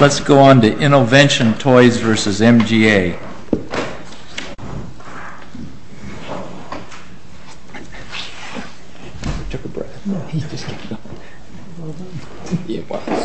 Let's go on to INNOVENTION TOYS v. MGA. MR. NIKODIMA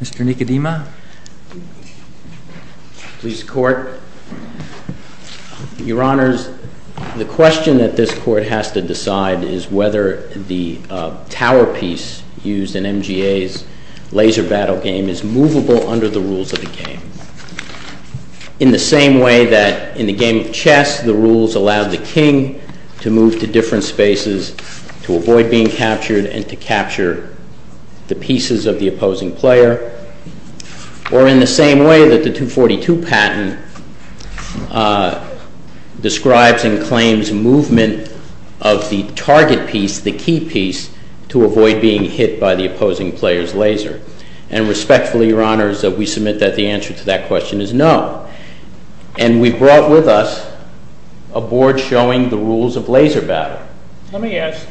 Mr. Nikodima, Police Court. Your Honors, the question that this Court has to decide is whether the tower piece used in MGA's laser battle game is movable under the rules of the game. In the same way that in the game of chess, the rules allow the king to move to different spaces to avoid being captured and to capture the pieces of the opposing player, or in the same way that the 242 patent describes and claims movement of the target piece, the key piece, to avoid being hit by the opposing player's laser. And respectfully, Your Honors, we submit that the answer to that question is no. And we've brought with us a board showing the rules of laser battle. MR. NIKODIMA Let me ask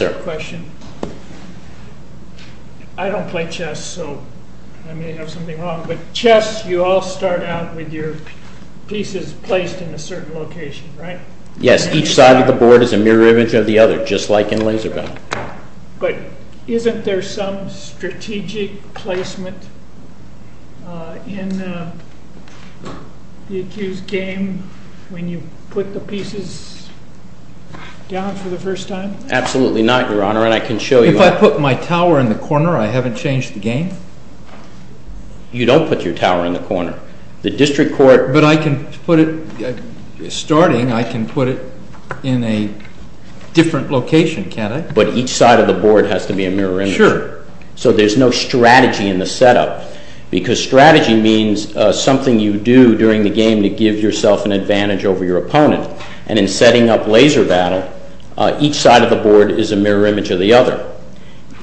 you a question. I don't play chess, so I may have something wrong, but chess, you all start out with your pieces placed in a certain location, right? MR. NIKODIMA Yes, each side of the board is a mirror image of the other, just like in laser battle. MR. NIKODIMA But isn't there some strategic placement in the accused's game when you put the pieces down for the first time? MR. NIKODIMA Absolutely not, Your Honor, and I can show you. MR. SORENSEN If I put my tower in the corner, I haven't changed the game? MR. NIKODIMA You don't put your tower in the corner. The district court MR. SORENSEN But I can put it, starting, I can put it in a different location, can't I? MR. NIKODIMA But each side of the board has to be a mirror image. MR. SORENSEN Sure. MR. NIKODIMA There's no strategy in the setup, because strategy means something you do during the game to give yourself an advantage over your opponent, and in setting up laser battle, each side of the board is a mirror image of the other,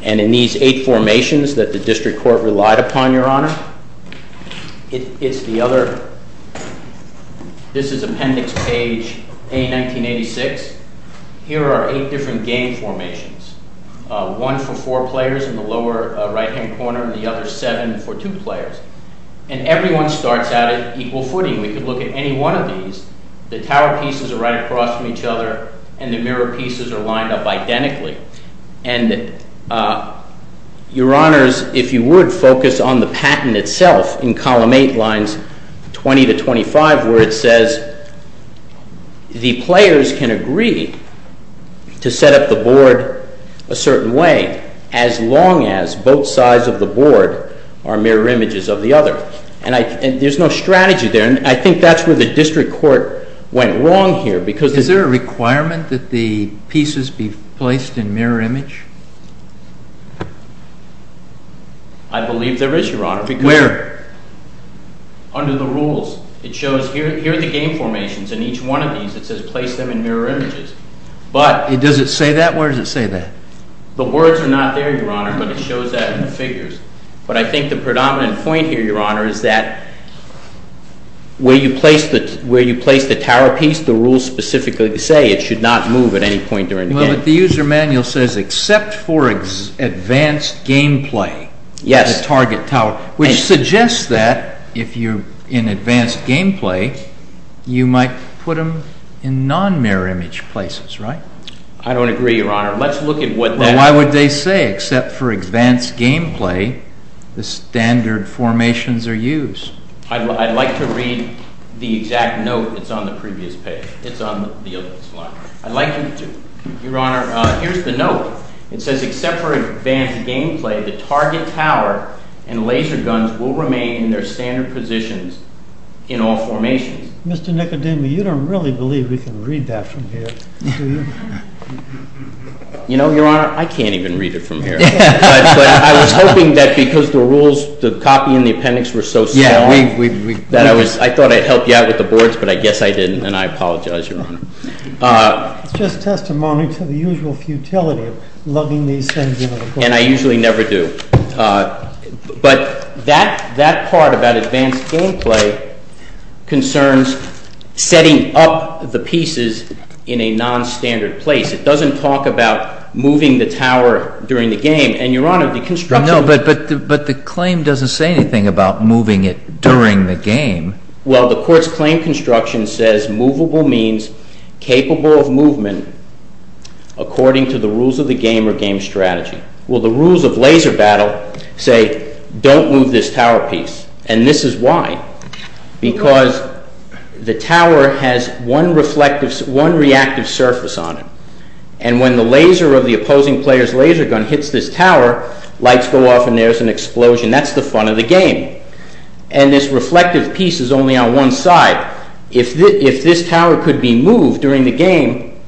and in these eight formations that the district court relied upon, Your Honor, it's the other, this is Appendix Page A, 1986, here are eight different game formations, one for four players in the lower right-hand corner, the other seven for two players, and everyone starts out at equal footing. We could look at any one of these. The tower pieces are right across from each other, and the mirror pieces are lined up identically, and Your Honors, if you would, focus on the patent itself in Column 8, lines 20 to 25, where it says the players can agree to set up the board a certain way as long as both sides of the board are mirror images of the other, and there's no strategy there, and I think that's where the district court went wrong here, because MR. SORENSEN Is there a requirement that the pieces be placed in mirror image? MR. NIKODIMA I believe there is, Your Honor. MR. SORENSEN Where? MR. NIKODIMA Under the rules, it shows, here are the game formations, and each one of these, it says place them in mirror images, but MR. SORENSEN Does it say that? Where does it say that? MR. NIKODIMA The words are not there, Your Honor, but it shows that in the figures, but I think the predominant point here, Your Honor, is that where you place the tower piece, the rules specifically say it should not move at any point during the game. MR. SORENSEN Well, but the user manual says, except for advanced gameplay, the target tower, which suggests that if you're in advanced gameplay, you might put them in non-mirror image places, right? MR. NIKODIMA I don't agree, Your Honor. Let's look at what that MR. SORENSEN Well, why would they say, except for advanced gameplay, the standard formations are used? MR. NIKODIMA I'd like to read the exact note that's on the previous page. It's on the other slide. MR. SORENSEN I'd like you to. MR. NIKODIMA Your Honor, here's the note. It says, except for advanced gameplay, the target tower and laser guns will remain in their standard positions in all formations. MR. SORENSEN Mr. Nikodima, you don't really believe we can read that from here, do you? MR. NIKODIMA You know, Your Honor, I can't even read it from here. MR. SORENSEN But I was hoping that because the rules, the copy and the appendix were so small that I thought I'd help you out with the boards, MR. NIKODIMA It's just testimony to the usual futility of lugging these things into the court. MR. SORENSEN And I usually never do. But that part about advanced gameplay concerns setting up the pieces in a nonstandard place. It doesn't talk about moving the tower during the game. And, Your Honor, the construction MR. NIKODIMA No, but the claim doesn't say anything about moving it during the game. MR. SORENSEN Well, the court's claim construction says movable means capable of movement according to the rules of the game or game strategy. Well, the rules of laser battle say don't move this tower piece. And this is why. Because the tower has one reflective, one reactive surface on it. And when the laser of the opposing player's laser gun hits this tower, lights go off and there's an explosion. That's the fun of the game. And this reflective piece is only on one side. If this tower could be moved during the game,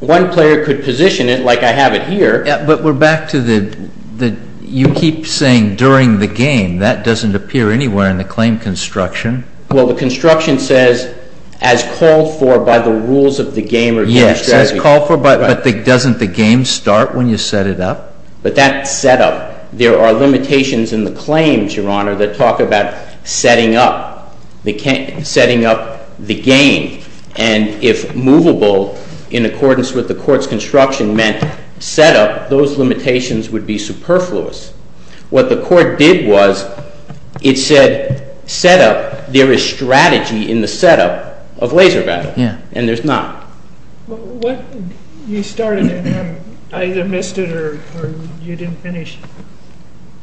one player could position it like I have it here. MR. NIKODIMA But we're back to the, you keep saying during the game. That doesn't appear anywhere in the claim construction. MR. SORENSEN Well, the construction says as called for by the rules of the game or game strategy. MR. NIKODIMA Yes, as called for, but doesn't the game start when you set it up? MR. SORENSEN But that's set up. There are limitations in the claims, that talk about setting up the game. And if movable, in accordance with the court's construction meant set up, those limitations would be superfluous. What the court did was, it said, set up, there is strategy in the setup of laser battle. And there's not. MR. NIKODIMA What you started, and I either missed it or you didn't finish.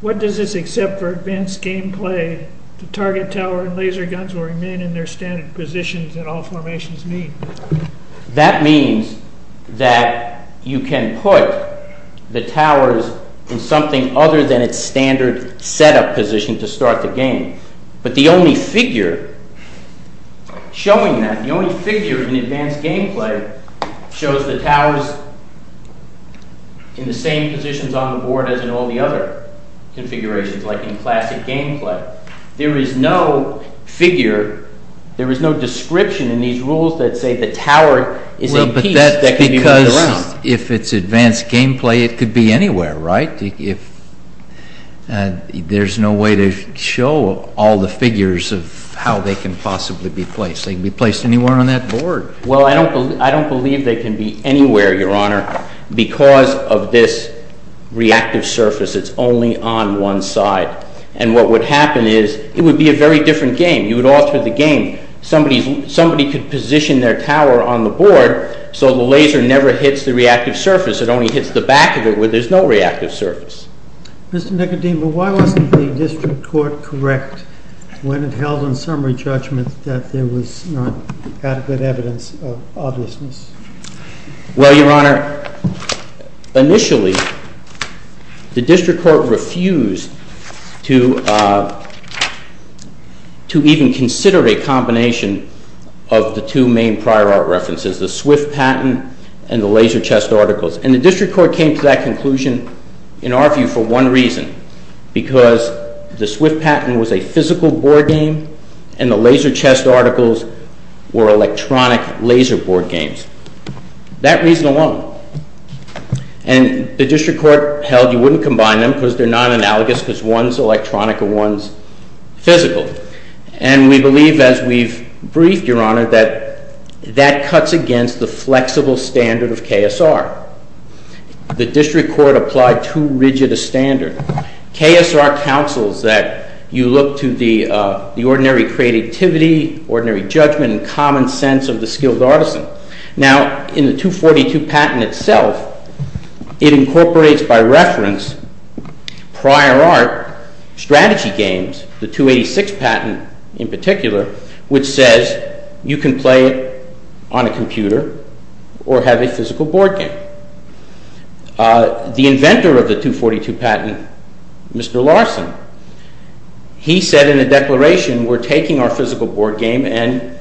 What does this except for advanced game play, the target tower and laser guns will remain in their standard positions in all formations mean? MR. SORENSEN That means that you can put the towers in something other than its standard setup position to start the game. But the only figure, showing that, the only figure in advanced game play, shows the towers are in the same positions on the board as in all the other configurations, like in classic game play. There is no figure, there is no description in these rules that say the tower is a piece that can be moved around. MR. NIKODIMA Because if it's advanced game play, it could be anywhere, right? There's no way to show all the figures of how they can possibly be placed. They can be placed anywhere on that board. MR. SORENSEN Well, I don't believe they can be anywhere, Your Honor, because of this reactive surface. It's only on one side. And what would happen is, it would be a very different game. You would alter the game. Somebody could position their tower on the board so the laser never hits the reactive surface. It only hits the back of it where there's no reactive surface. MR. SORENSEN Mr. Nikodima, why wasn't the district court correct when it held in summary judgment that there was not adequate evidence of obviousness? MR. NIKODIMA Well, Your Honor, initially, the district court refused to even consider a combination of the two main prior art references, the Swift patent and the laser chest articles. And the district court came to that conclusion, in our view, for one reason, because the Swift patent was a physical board game and the laser chest articles were electronic laser board games. That reason alone. And the district court held you wouldn't combine them because they're not analogous because one's electronic and one's physical. And we believe, as we've briefed, Your Honor, that that cuts against the flexible standard of KSR. The district court applied too rigid a standard. KSR counsels that you look to the ordinary creativity, ordinary judgment and common sense of the skilled artisan. Now, in the 242 patent itself, it incorporates, by reference, prior art strategy games, the 286 patent in particular, which says you can play on a computer or have a physical board game. The inventor of the 242 patent, Mr. Larson, he said in a declaration, we're taking our physical board game and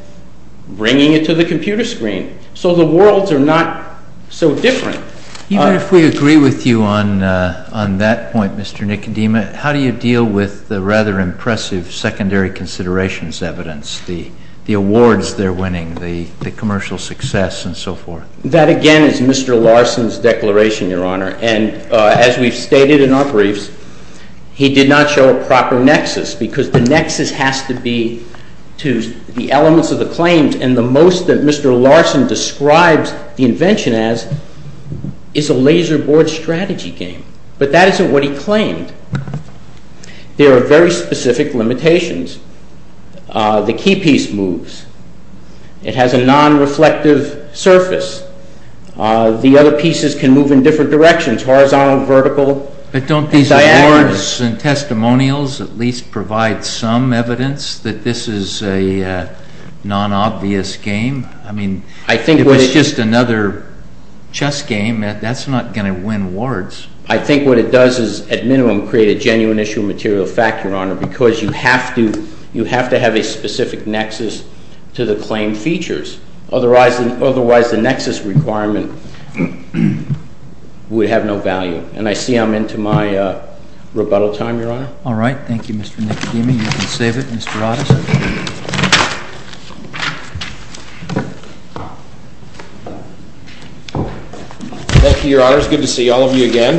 bringing it to the computer screen. So the worlds are not so different. Even if we agree with you on that point, Mr. Nicodima, how do you deal with the rather impressive secondary considerations evidence, the awards they're winning, the commercial success and so forth? That again is Mr. Larson's declaration, Your Honor. And as we've stated in our briefs, he did not show a proper nexus because the nexus has to be to the elements of the claims and the most that Mr. Larson describes the invention as is a laser board strategy game. But that isn't what he claimed. There are very specific limitations. The key piece moves. It has a non-reflective surface. The other pieces can move in different directions, horizontal, vertical, and diagonal. But don't these awards and testimonials at least provide some evidence that this is a non-obvious game? I mean, if it's just another chess game, that's not going to win awards. I think what it does is at minimum create a genuine issue of material fact, Your Honor, because you have to have a specific nexus to the claim features. Otherwise, the nexus requirement would have no value. And I see I'm into my rebuttal time, Your Honor. All right. Thank you, Mr. Nicodemus. You can save it, Mr. Otis. Thank you, Your Honors. Good to see all of you again.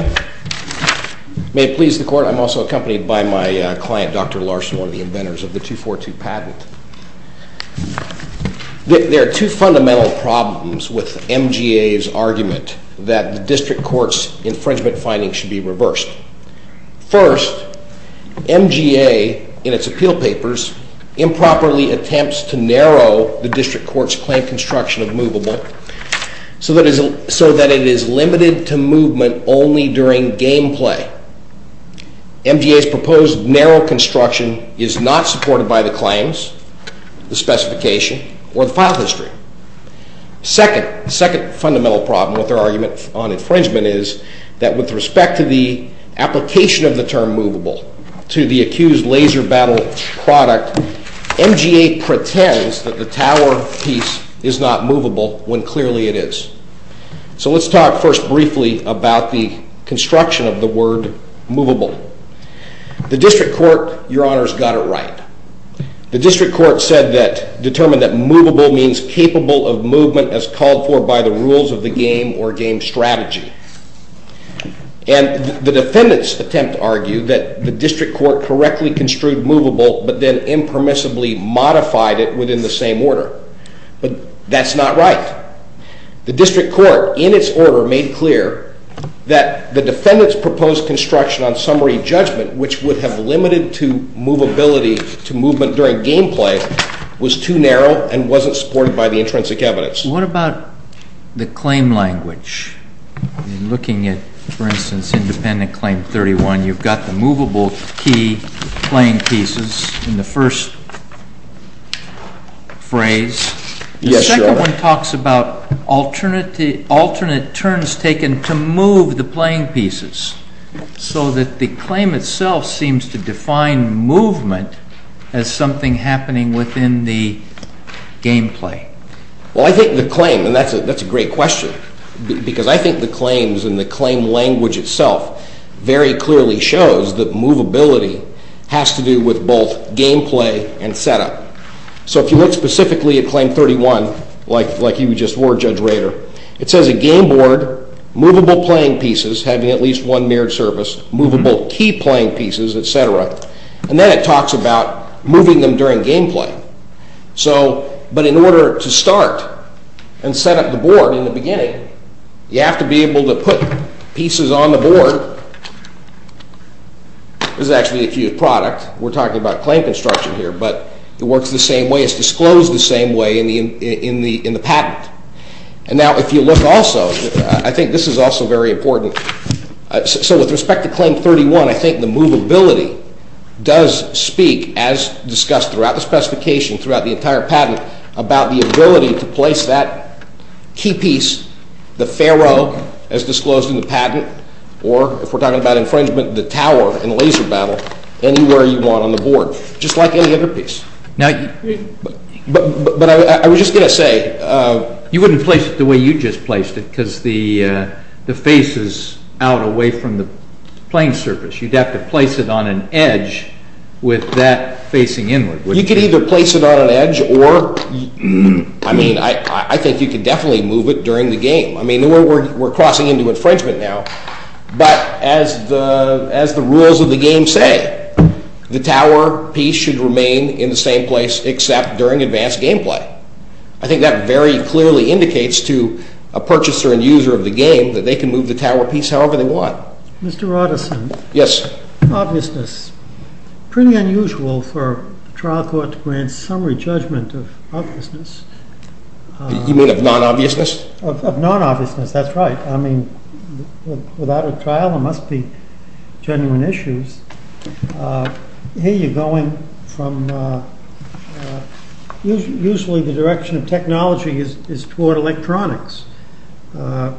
May it please the Court, I'm also accompanied by my client, Dr. Larson, one of the inventors of the 242 patent. There are two fundamental problems with MGA's argument that the district court's infringement findings should be reversed. First, MGA in its appeal papers improperly attempts to narrow the district court's claim construction of movable so that it is limited to movement only during game play. MGA's proposed narrow construction is not supported by the claims, the specification, or the file history. Second, the second fundamental problem with their argument on infringement is that with respect to the application of the term movable to the accused laser battle product, MGA pretends that the tower piece is not movable when clearly it is. So let's talk first briefly about the construction of the word movable. The district court, Your Honors, got it right. The district court said that, determined that movable means capable of movement as called for by the rules of the game or game strategy. And the defendant's attempt to argue that the district court correctly construed movable but then impermissibly modified it within the same order. But that's not right. The district court, in its order, made clear that the defendant's proposed construction on summary judgment, which would have limited to movability to movement during game play, was too narrow and wasn't supported by the intrinsic evidence. What about the claim language? In looking at, for instance, independent claim 31, you've got the movable key playing pieces in the first phrase. Yes, Your Honor. The second one talks about alternate turns taken to move the playing pieces so that the claim itself seems to define movement as something happening within the game play. Well, I think the claim, and that's a great question, because I think the claims and the claim language itself very clearly shows that movability has to do with both game play and setup. So if you look specifically at claim 31, like you just were, Judge Rader, it says a game board, movable playing pieces having at least one mirrored surface, movable key playing pieces, et cetera. And then it talks about moving them during game play. But in order to start and set up the board in the beginning, you have to be able to put pieces on the board. This is actually a huge product. We're talking about claim construction here, but it works the same way. It's disclosed the same way in the patent. And now if you look I think this is also very important. So with respect to claim 31, I think the movability does speak, as discussed throughout the specification, throughout the entire patent, about the ability to place that key piece, the pharaoh, as disclosed in the patent, or if we're talking about infringement, the tower in laser battle, anywhere you want on the board, just like any other piece. But I was just going to say— You wouldn't place it the way you just placed it, because the face is out away from the playing surface. You'd have to place it on an edge with that facing inward. You could either place it on an edge or, I mean, I think you could definitely move it during the game. I mean, we're crossing into infringement now, but as the rules of the game say, the tower piece should remain in the same place except during advanced game play. I think that very clearly indicates to a purchaser and user of the game that they can move the tower piece however they want. Mr. Roddison. Yes. Obviousness. Pretty unusual for a trial court to grant summary judgment of obviousness. You mean of non-obviousness? Of non-obviousness, that's right. I mean, without a trial there must be genuine issues. Here you're going from—usually the direction of technology is toward electronics. Here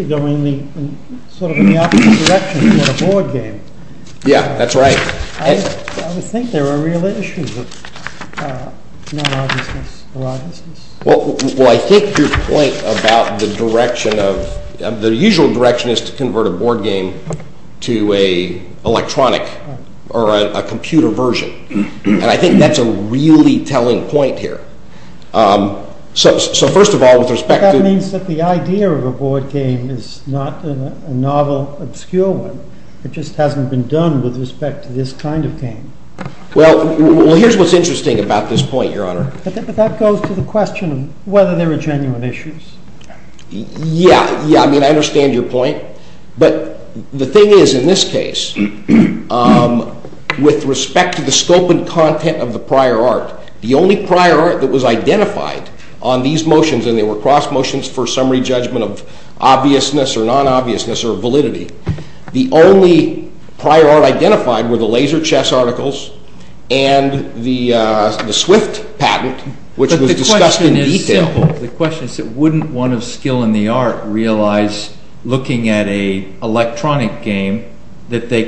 you're going in sort of the opposite direction toward a board game. Yeah, that's right. I would think there are real issues with non-obviousness or obviousness. Well, I think your point about the direction of—the usual direction is to convert a board game to an electronic or a computer version, and I think that's a really point here. So first of all, with respect to— But that means that the idea of a board game is not a novel, obscure one. It just hasn't been done with respect to this kind of game. Well, here's what's interesting about this point, Your Honor. But that goes to the question of whether there are genuine issues. Yeah, I mean, I understand your point, but the thing is in this prior art that was identified on these motions—and they were cross motions for summary judgment of obviousness or non-obviousness or validity—the only prior art identified were the laser chess articles and the Swift patent, which was discussed in detail. But the question is simple. The question is, wouldn't one of skill in the art realize looking at an electronic game that they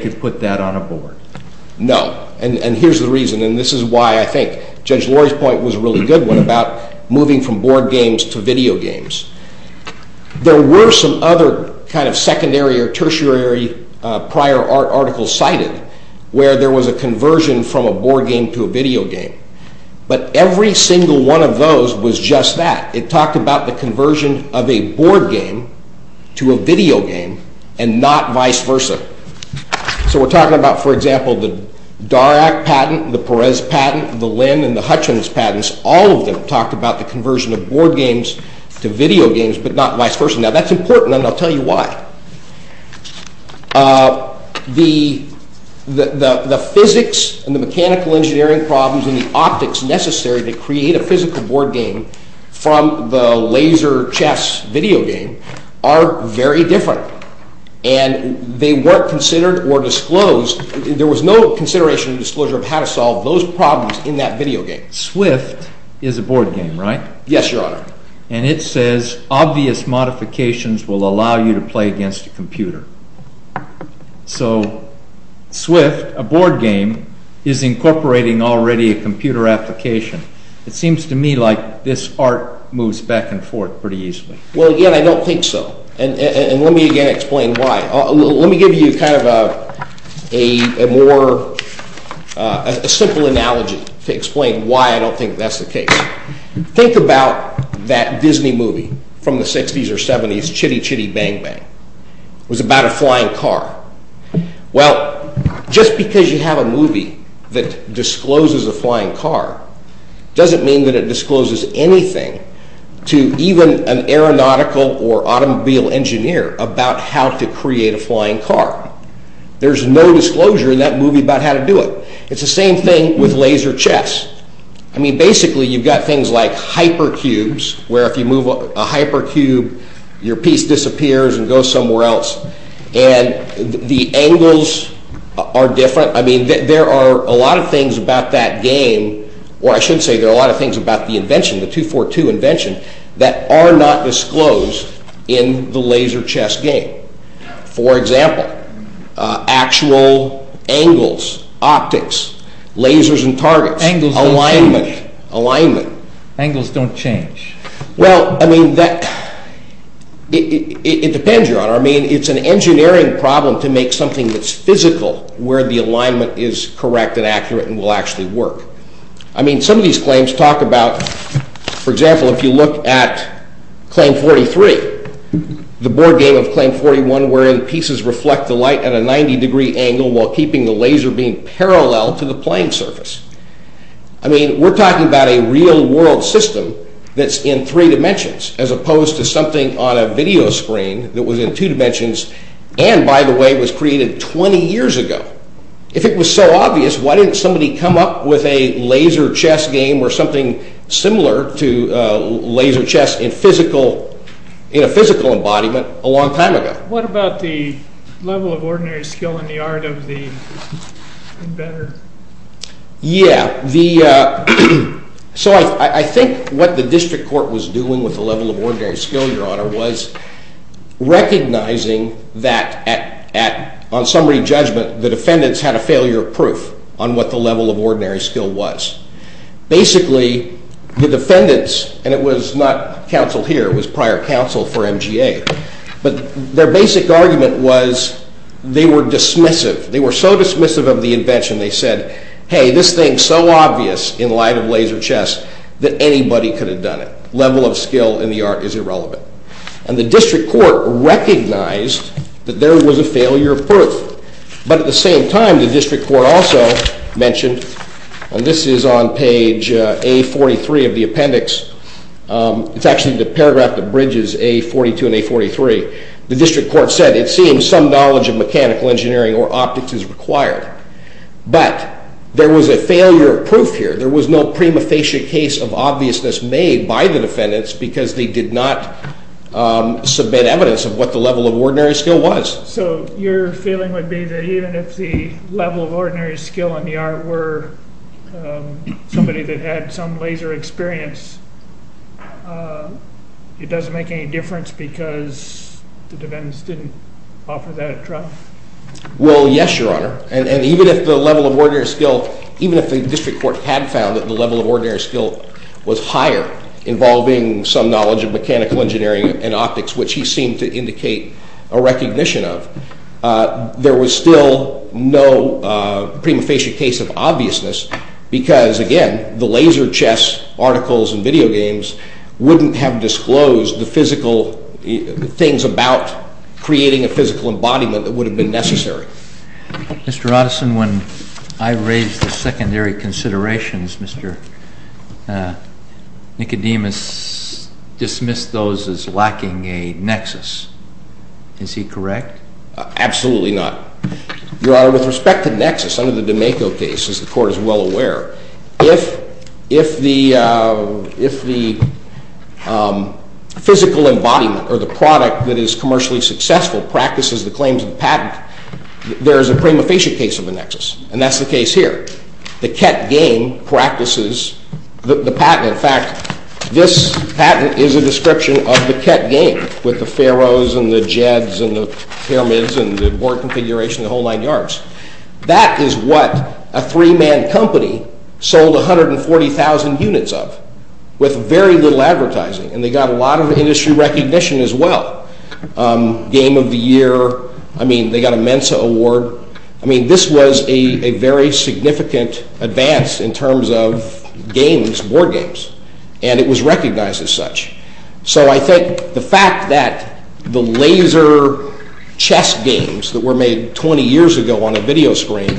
Judge Laurie's point was a really good one about moving from board games to video games. There were some other kind of secondary or tertiary prior art articles cited where there was a conversion from a board game to a video game, but every single one of those was just that. It talked about the conversion of a board game to a video game and not vice versa. So we're in the Hutchins patents. All of them talked about the conversion of board games to video games, but not vice versa. Now that's important, and I'll tell you why. The physics and the mechanical engineering problems and the optics necessary to create a physical board game from the laser chess video game are very different, and they weren't considered or disclosed. There was no consideration or disclosure of how to solve those problems in video games. Swift is a board game, right? Yes, your honor. And it says obvious modifications will allow you to play against a computer. So Swift, a board game, is incorporating already a computer application. It seems to me like this art moves back and forth pretty easily. Well, again, I don't think so. And let me again explain why. Let me give you kind of a more a simple analogy to explain why I don't think that's the case. Think about that Disney movie from the 60s or 70s, Chitty Chitty Bang Bang. It was about a flying car. Well, just because you have a movie that discloses a flying car doesn't mean that it discloses anything to even an aeronautical or automobile engineer about how to create a flying car. There's no disclosure in that movie about how to do it. It's the same thing with laser chess. I mean, basically, you've got things like hypercubes, where if you move a hypercube, your piece disappears and goes somewhere else. And the angles are different. I mean, there are a lot of things about that game, or I should say there are a lot of things about the invention, the 242 invention, that are not disclosed in the laser chess game. For example, actual angles, optics, lasers and targets, alignment. Angles don't change. Well, I mean, it depends, Your Honor. I mean, it's an engineering problem to make something that's physical where the alignment is correct and accurate and will actually work. I mean, some of the pieces reflect the light at a 90 degree angle while keeping the laser beam parallel to the plane surface. I mean, we're talking about a real world system that's in three dimensions, as opposed to something on a video screen that was in two dimensions and, by the way, was created 20 years ago. If it was so obvious, why didn't somebody come up with a laser chess game or something similar to laser chess in a physical embodiment a long time ago? What about the level of ordinary skill in the art of the inventor? Yeah, so I think what the district court was doing with the level of ordinary skill, Your Honor, was recognizing that, on summary judgment, the defendants had a failure of proof on what the level of ordinary skill was. Basically, the defendants, and it was not counsel here, it was prior counsel for MGA, but their basic argument was they were dismissive. They were so dismissive of the invention, they said, hey, this thing's so obvious in light of laser chess that anybody could have done it. Level of skill in the art is irrelevant. And the district court recognized that there was a failure of proof. But at the same time, the district court also mentioned, and this is on page A43 of the appendix, it's actually the paragraph that bridges A42 and A43, the district court said, it seems some knowledge of mechanical engineering or optics is required. But there was a failure of proof here. There was no prima facie case of obviousness made by the defendants because they did not submit evidence of what the level of ordinary skill was. So your feeling would be that even if the level of ordinary skill in the art were somebody that had some laser experience, it doesn't make any difference because the defendants didn't offer that trial? Well, yes, Your Honor. And even if the level of ordinary skill, even if the district court had found that the level of ordinary skill was higher involving some knowledge of mechanical engineering and optics, which he seemed to indicate a recognition of, there was still no prima facie case of obviousness because, again, the laser chess articles and video games wouldn't have disclosed the physical things about creating a physical embodiment that would have been necessary. Mr. Roddison, when I raised the secondary considerations, Mr. Nicodemus dismissed those as lacking a nexus. Is he correct? Absolutely not, Your Honor. With respect to nexus, under the D'Amico case, as the court is well aware, if the physical embodiment or the product that is commercially successful practices the claims of the patent, there is a prima facie case of a nexus, and that's the case here. The Kett game practices the patent. In fact, this patent is a description of the Kett game with the Faros and the Jeds and the Pyramids and the board configuration, the whole nine yards. That is what a three-man company sold 140,000 units of with very little game of the year. I mean, they got a Mensa award. I mean, this was a very significant advance in terms of games, board games, and it was recognized as such. So I think the fact that the laser chess games that were made 20 years ago on a video screen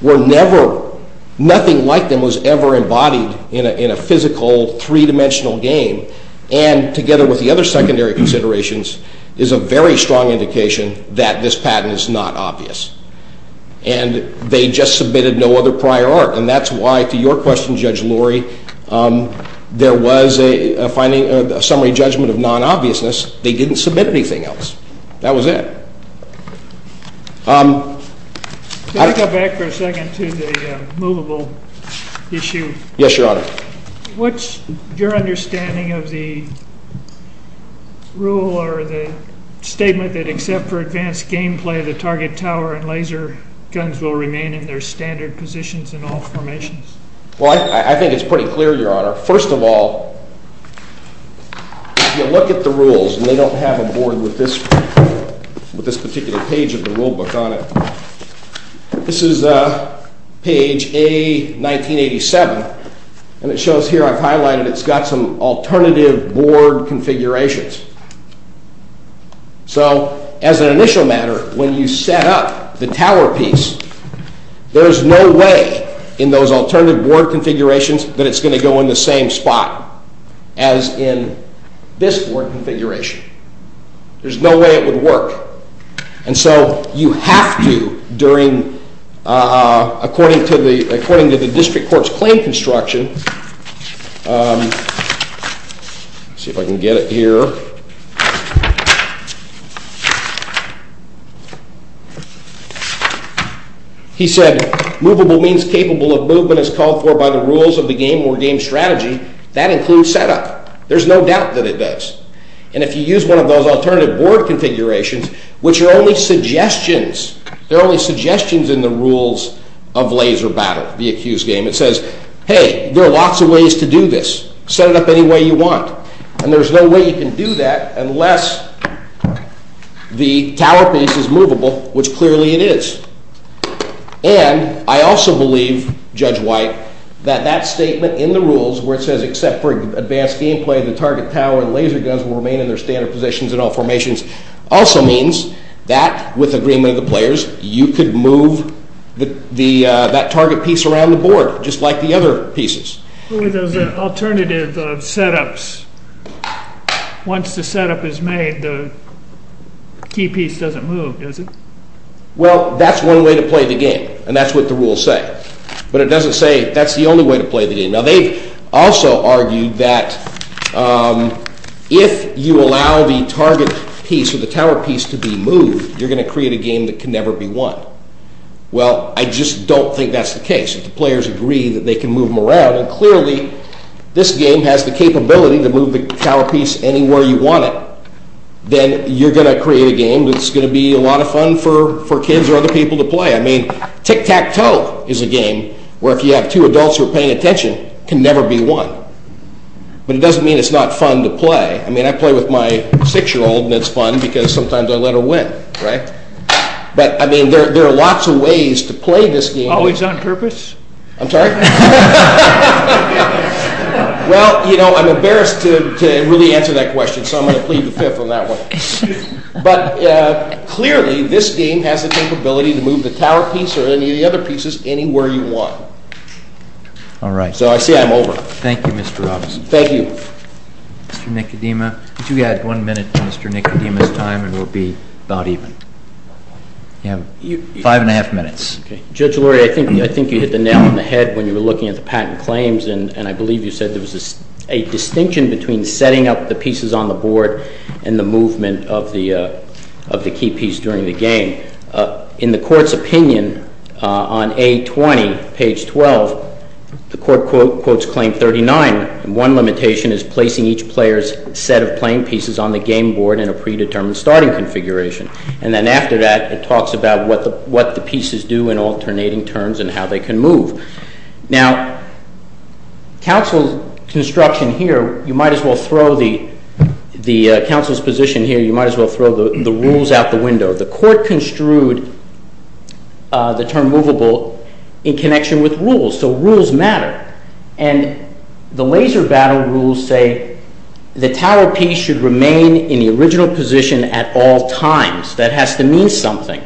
were never, nothing like them was ever embodied in a physical three-dimensional game, and together with the secondary considerations, is a very strong indication that this patent is not obvious. And they just submitted no other prior art, and that's why, to your question, Judge Lurie, there was a summary judgment of non-obviousness. They didn't submit anything else. That was it. Can I go back for a second to the movable issue? Yes, Your Honor. What's your understanding of the rule or the statement that except for advanced gameplay, the target tower and laser guns will remain in their standard positions in all formations? Well, I think it's pretty clear, Your Honor. First of all, if you look at the rules, and they don't have a board with this particular page of the rule book on it, this is page A, 1987, and it shows here, I've highlighted, it's got some alternative board configurations. So as an initial matter, when you set up the tower piece, there's no way in those alternative board configurations that it's going to go in the same spot as in this board configuration. There's no way it would work. And so you have to, according to the rules, let's see if I can get it here, he said, movable means capable of movement as called for by the rules of the game or game strategy. That includes setup. There's no doubt that it does. And if you use one of those alternative board configurations, which are only suggestions, they're only suggestions in the rules of laser battle, the accused game. It says, hey, there are lots of ways to do this. Set it up any way you want. And there's no way you can do that unless the tower piece is movable, which clearly it is. And I also believe, Judge White, that that statement in the rules where it says except for advanced gameplay, the target tower and laser guns will remain in their standard positions in the, that target piece around the board, just like the other pieces. With those alternative setups, once the setup is made, the key piece doesn't move, does it? Well, that's one way to play the game. And that's what the rules say. But it doesn't say that's the only way to play the game. Now, they also argued that if you allow the target piece to be moved, you're going to create a game that can never be won. Well, I just don't think that's the case. If the players agree that they can move them around, and clearly this game has the capability to move the tower piece anywhere you want it, then you're going to create a game that's going to be a lot of fun for kids or other people to play. I mean, Tic-Tac-Toe is a game where if you have two adults who are paying attention, it can never be won. But it doesn't mean it's not to play. I mean, I play with my six-year-old, and it's fun because sometimes I let her win, right? But I mean, there are lots of ways to play this game. Always on purpose? I'm sorry? Well, you know, I'm embarrassed to really answer that question, so I'm going to plead the fifth on that one. But clearly, this game has the capability to move the tower piece or any of the other pieces anywhere you want. All right. So I see I'm over. Thank you, Mr. Robinson. Thank you. Mr. Nicodema, could you add one minute to Mr. Nicodema's time, and we'll be about even. You have five and a half minutes. Okay. Judge Lurie, I think you hit the nail on the head when you were looking at the patent claims, and I believe you said there was a distinction between setting up the pieces on the board and the movement of the key piece during the game. In the Court's opinion on A20, page 12, the Court quotes Claim 39, and one limitation is placing each player's set of playing pieces on the game board in a predetermined starting configuration. And then after that, it talks about what the pieces do in alternating terms and how they can move. Now, counsel's position here, you might as well throw the rules out the window. The Court rules matter, and the laser battle rules say the tower piece should remain in the original position at all times. That has to mean something.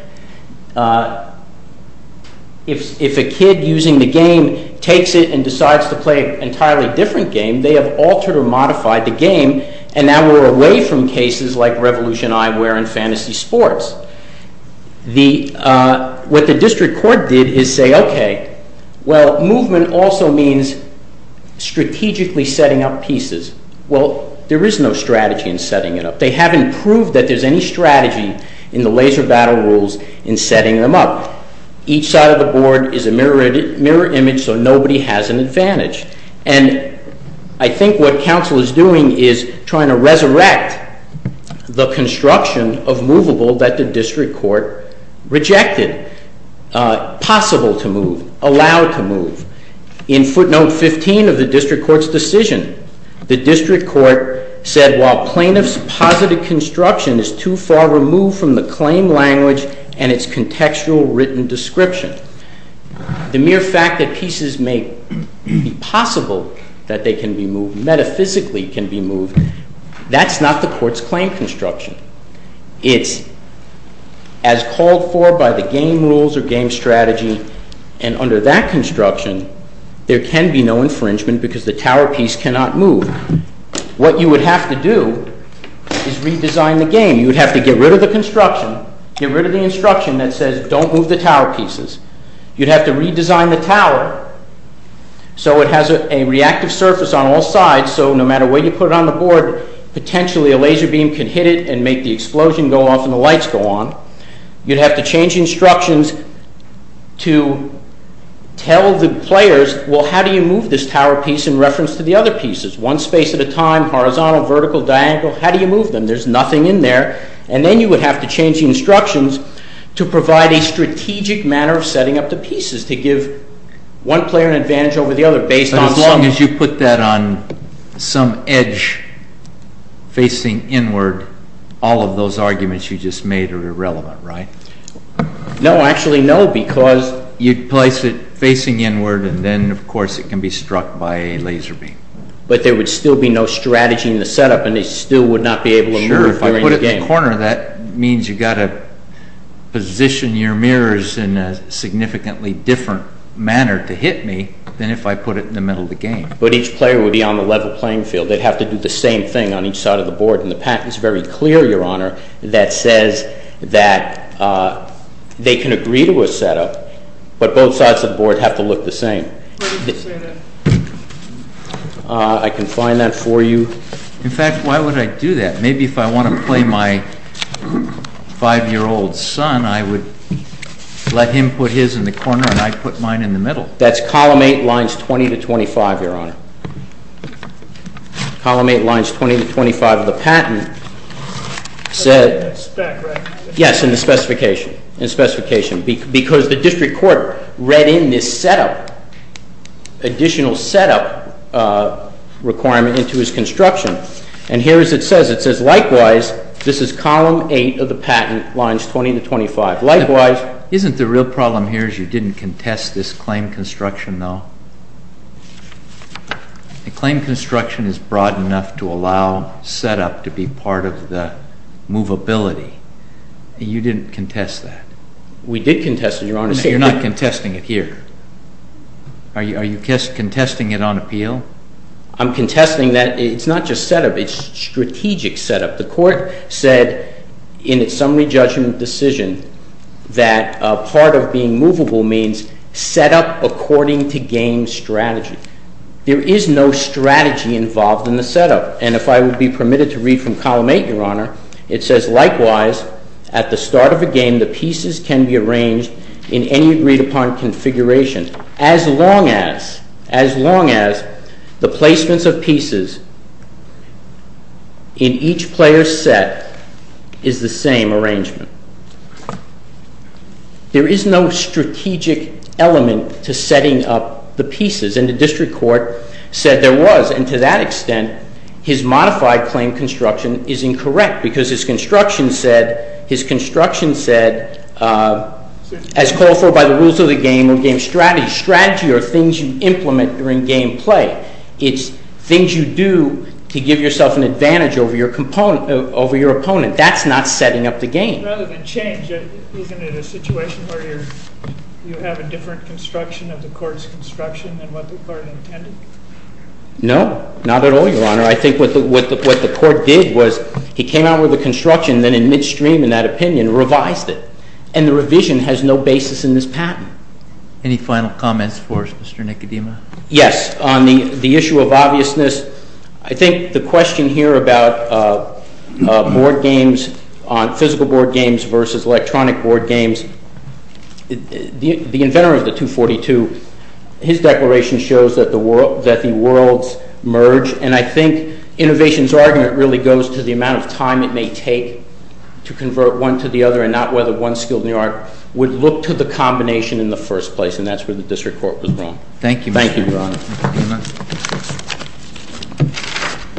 If a kid using the game takes it and decides to play an entirely different game, they have altered or modified the game, and now we're away from cases like Revolution Eyewear and Fantasy Sports. What the District Court did is say, well, movement also means strategically setting up pieces. Well, there is no strategy in setting it up. They haven't proved that there's any strategy in the laser battle rules in setting them up. Each side of the board is a mirror image, so nobody has an advantage. And I think what counsel is doing is trying to resurrect the construction of movable that the District Court rejected, possible to move, allowed to move. In footnote 15 of the District Court's decision, the District Court said, while plaintiff's positive construction is too far removed from the claim language and its contextual written description, the mere fact that pieces may be possible that they can be moved, metaphysically can be moved, that's not the Court's claim construction. It's as called for by the game rules or game strategy, and under that construction, there can be no infringement because the tower piece cannot move. What you would have to do is redesign the game. You would have to get rid of the construction, get rid of the instruction that says don't move the tower pieces. You'd have to redesign the tower so it has a reactive surface on all sides, so no matter where you put it on the board, potentially a laser beam can hit it and make the explosion go off and the lights go on. You'd have to change instructions to tell the players, well, how do you move this tower piece in reference to the other pieces? One space at a time, horizontal, vertical, diagonal, how do you move them? There's nothing in there. And then you would have to change the instructions to provide a strategic manner of setting up the game. If I put that on some edge facing inward, all of those arguments you just made are irrelevant, right? No, actually, no, because... You'd place it facing inward and then, of course, it can be struck by a laser beam. But there would still be no strategy in the setup and they still would not be able to... Sure, if I put it in the corner, that means you've got to position your mirrors in a significantly different manner to hit me than if I put it in the middle of the game. But each player would be on the level playing field. They'd have to do the same thing on each side of the board and the patent is very clear, Your Honor, that says that they can agree to a setup but both sides of the board have to look the same. I can find that for you. In fact, why would I do that? Maybe if I want to play my five-year-old son, I would let him put his in the corner and I put mine in the middle. That's Column 8, Lines 20 to 25, Your Honor. Column 8, Lines 20 to 25 of the patent said... Yes, in the specification, because the district court read in this setup, additional setup requirement into his construction. And here as it says, it says, likewise, this is Column 8 of the patent, Lines 20 to 25. Likewise... Isn't the real problem here is you didn't contest this claim construction though? The claim construction is broad enough to allow setup to be part of the movability. You didn't contest that. We did contest it, Your Honor. You're not contesting it here. Are you contesting it on appeal? I'm contesting that it's not just setup, it's strategic setup. The court said in its summary judgment decision that part of being movable means setup according to game strategy. There is no strategy involved in the setup. And if I would be permitted to read from Column 8, Your Honor, it says, likewise, at the start of a game, the pieces can be arranged in any agreed upon configuration as long as the placements of pieces in each player's set is the same arrangement. There is no strategic element to setting up the pieces. And the district court said there was. And to that extent, his modified claim construction is incorrect because his construction said as called for by the rules of the game or game strategy, strategy are things you implement during game play. It's things you do to give yourself an advantage over your opponent. That's not setting up the game. Rather than change, isn't it a situation where you have a different construction of the court's construction than what the court intended? No, not at all, Your Honor. I think what the court did was he came out with a construction, then in midstream in that opinion, revised it. And the revision has no basis in this patent. Any final comments for us, Mr. Nicodema? Yes, on the issue of obviousness, I think the question here about board games, physical board games versus electronic board games, the inventor of the 242, his declaration shows that the worlds merge. And I think innovation's argument really goes to the amount of time it may take to convert one to the other and not whether one skilled New Yorker would look to the combination in the first place. And that's where the district court was wrong. Thank you, Your Honor.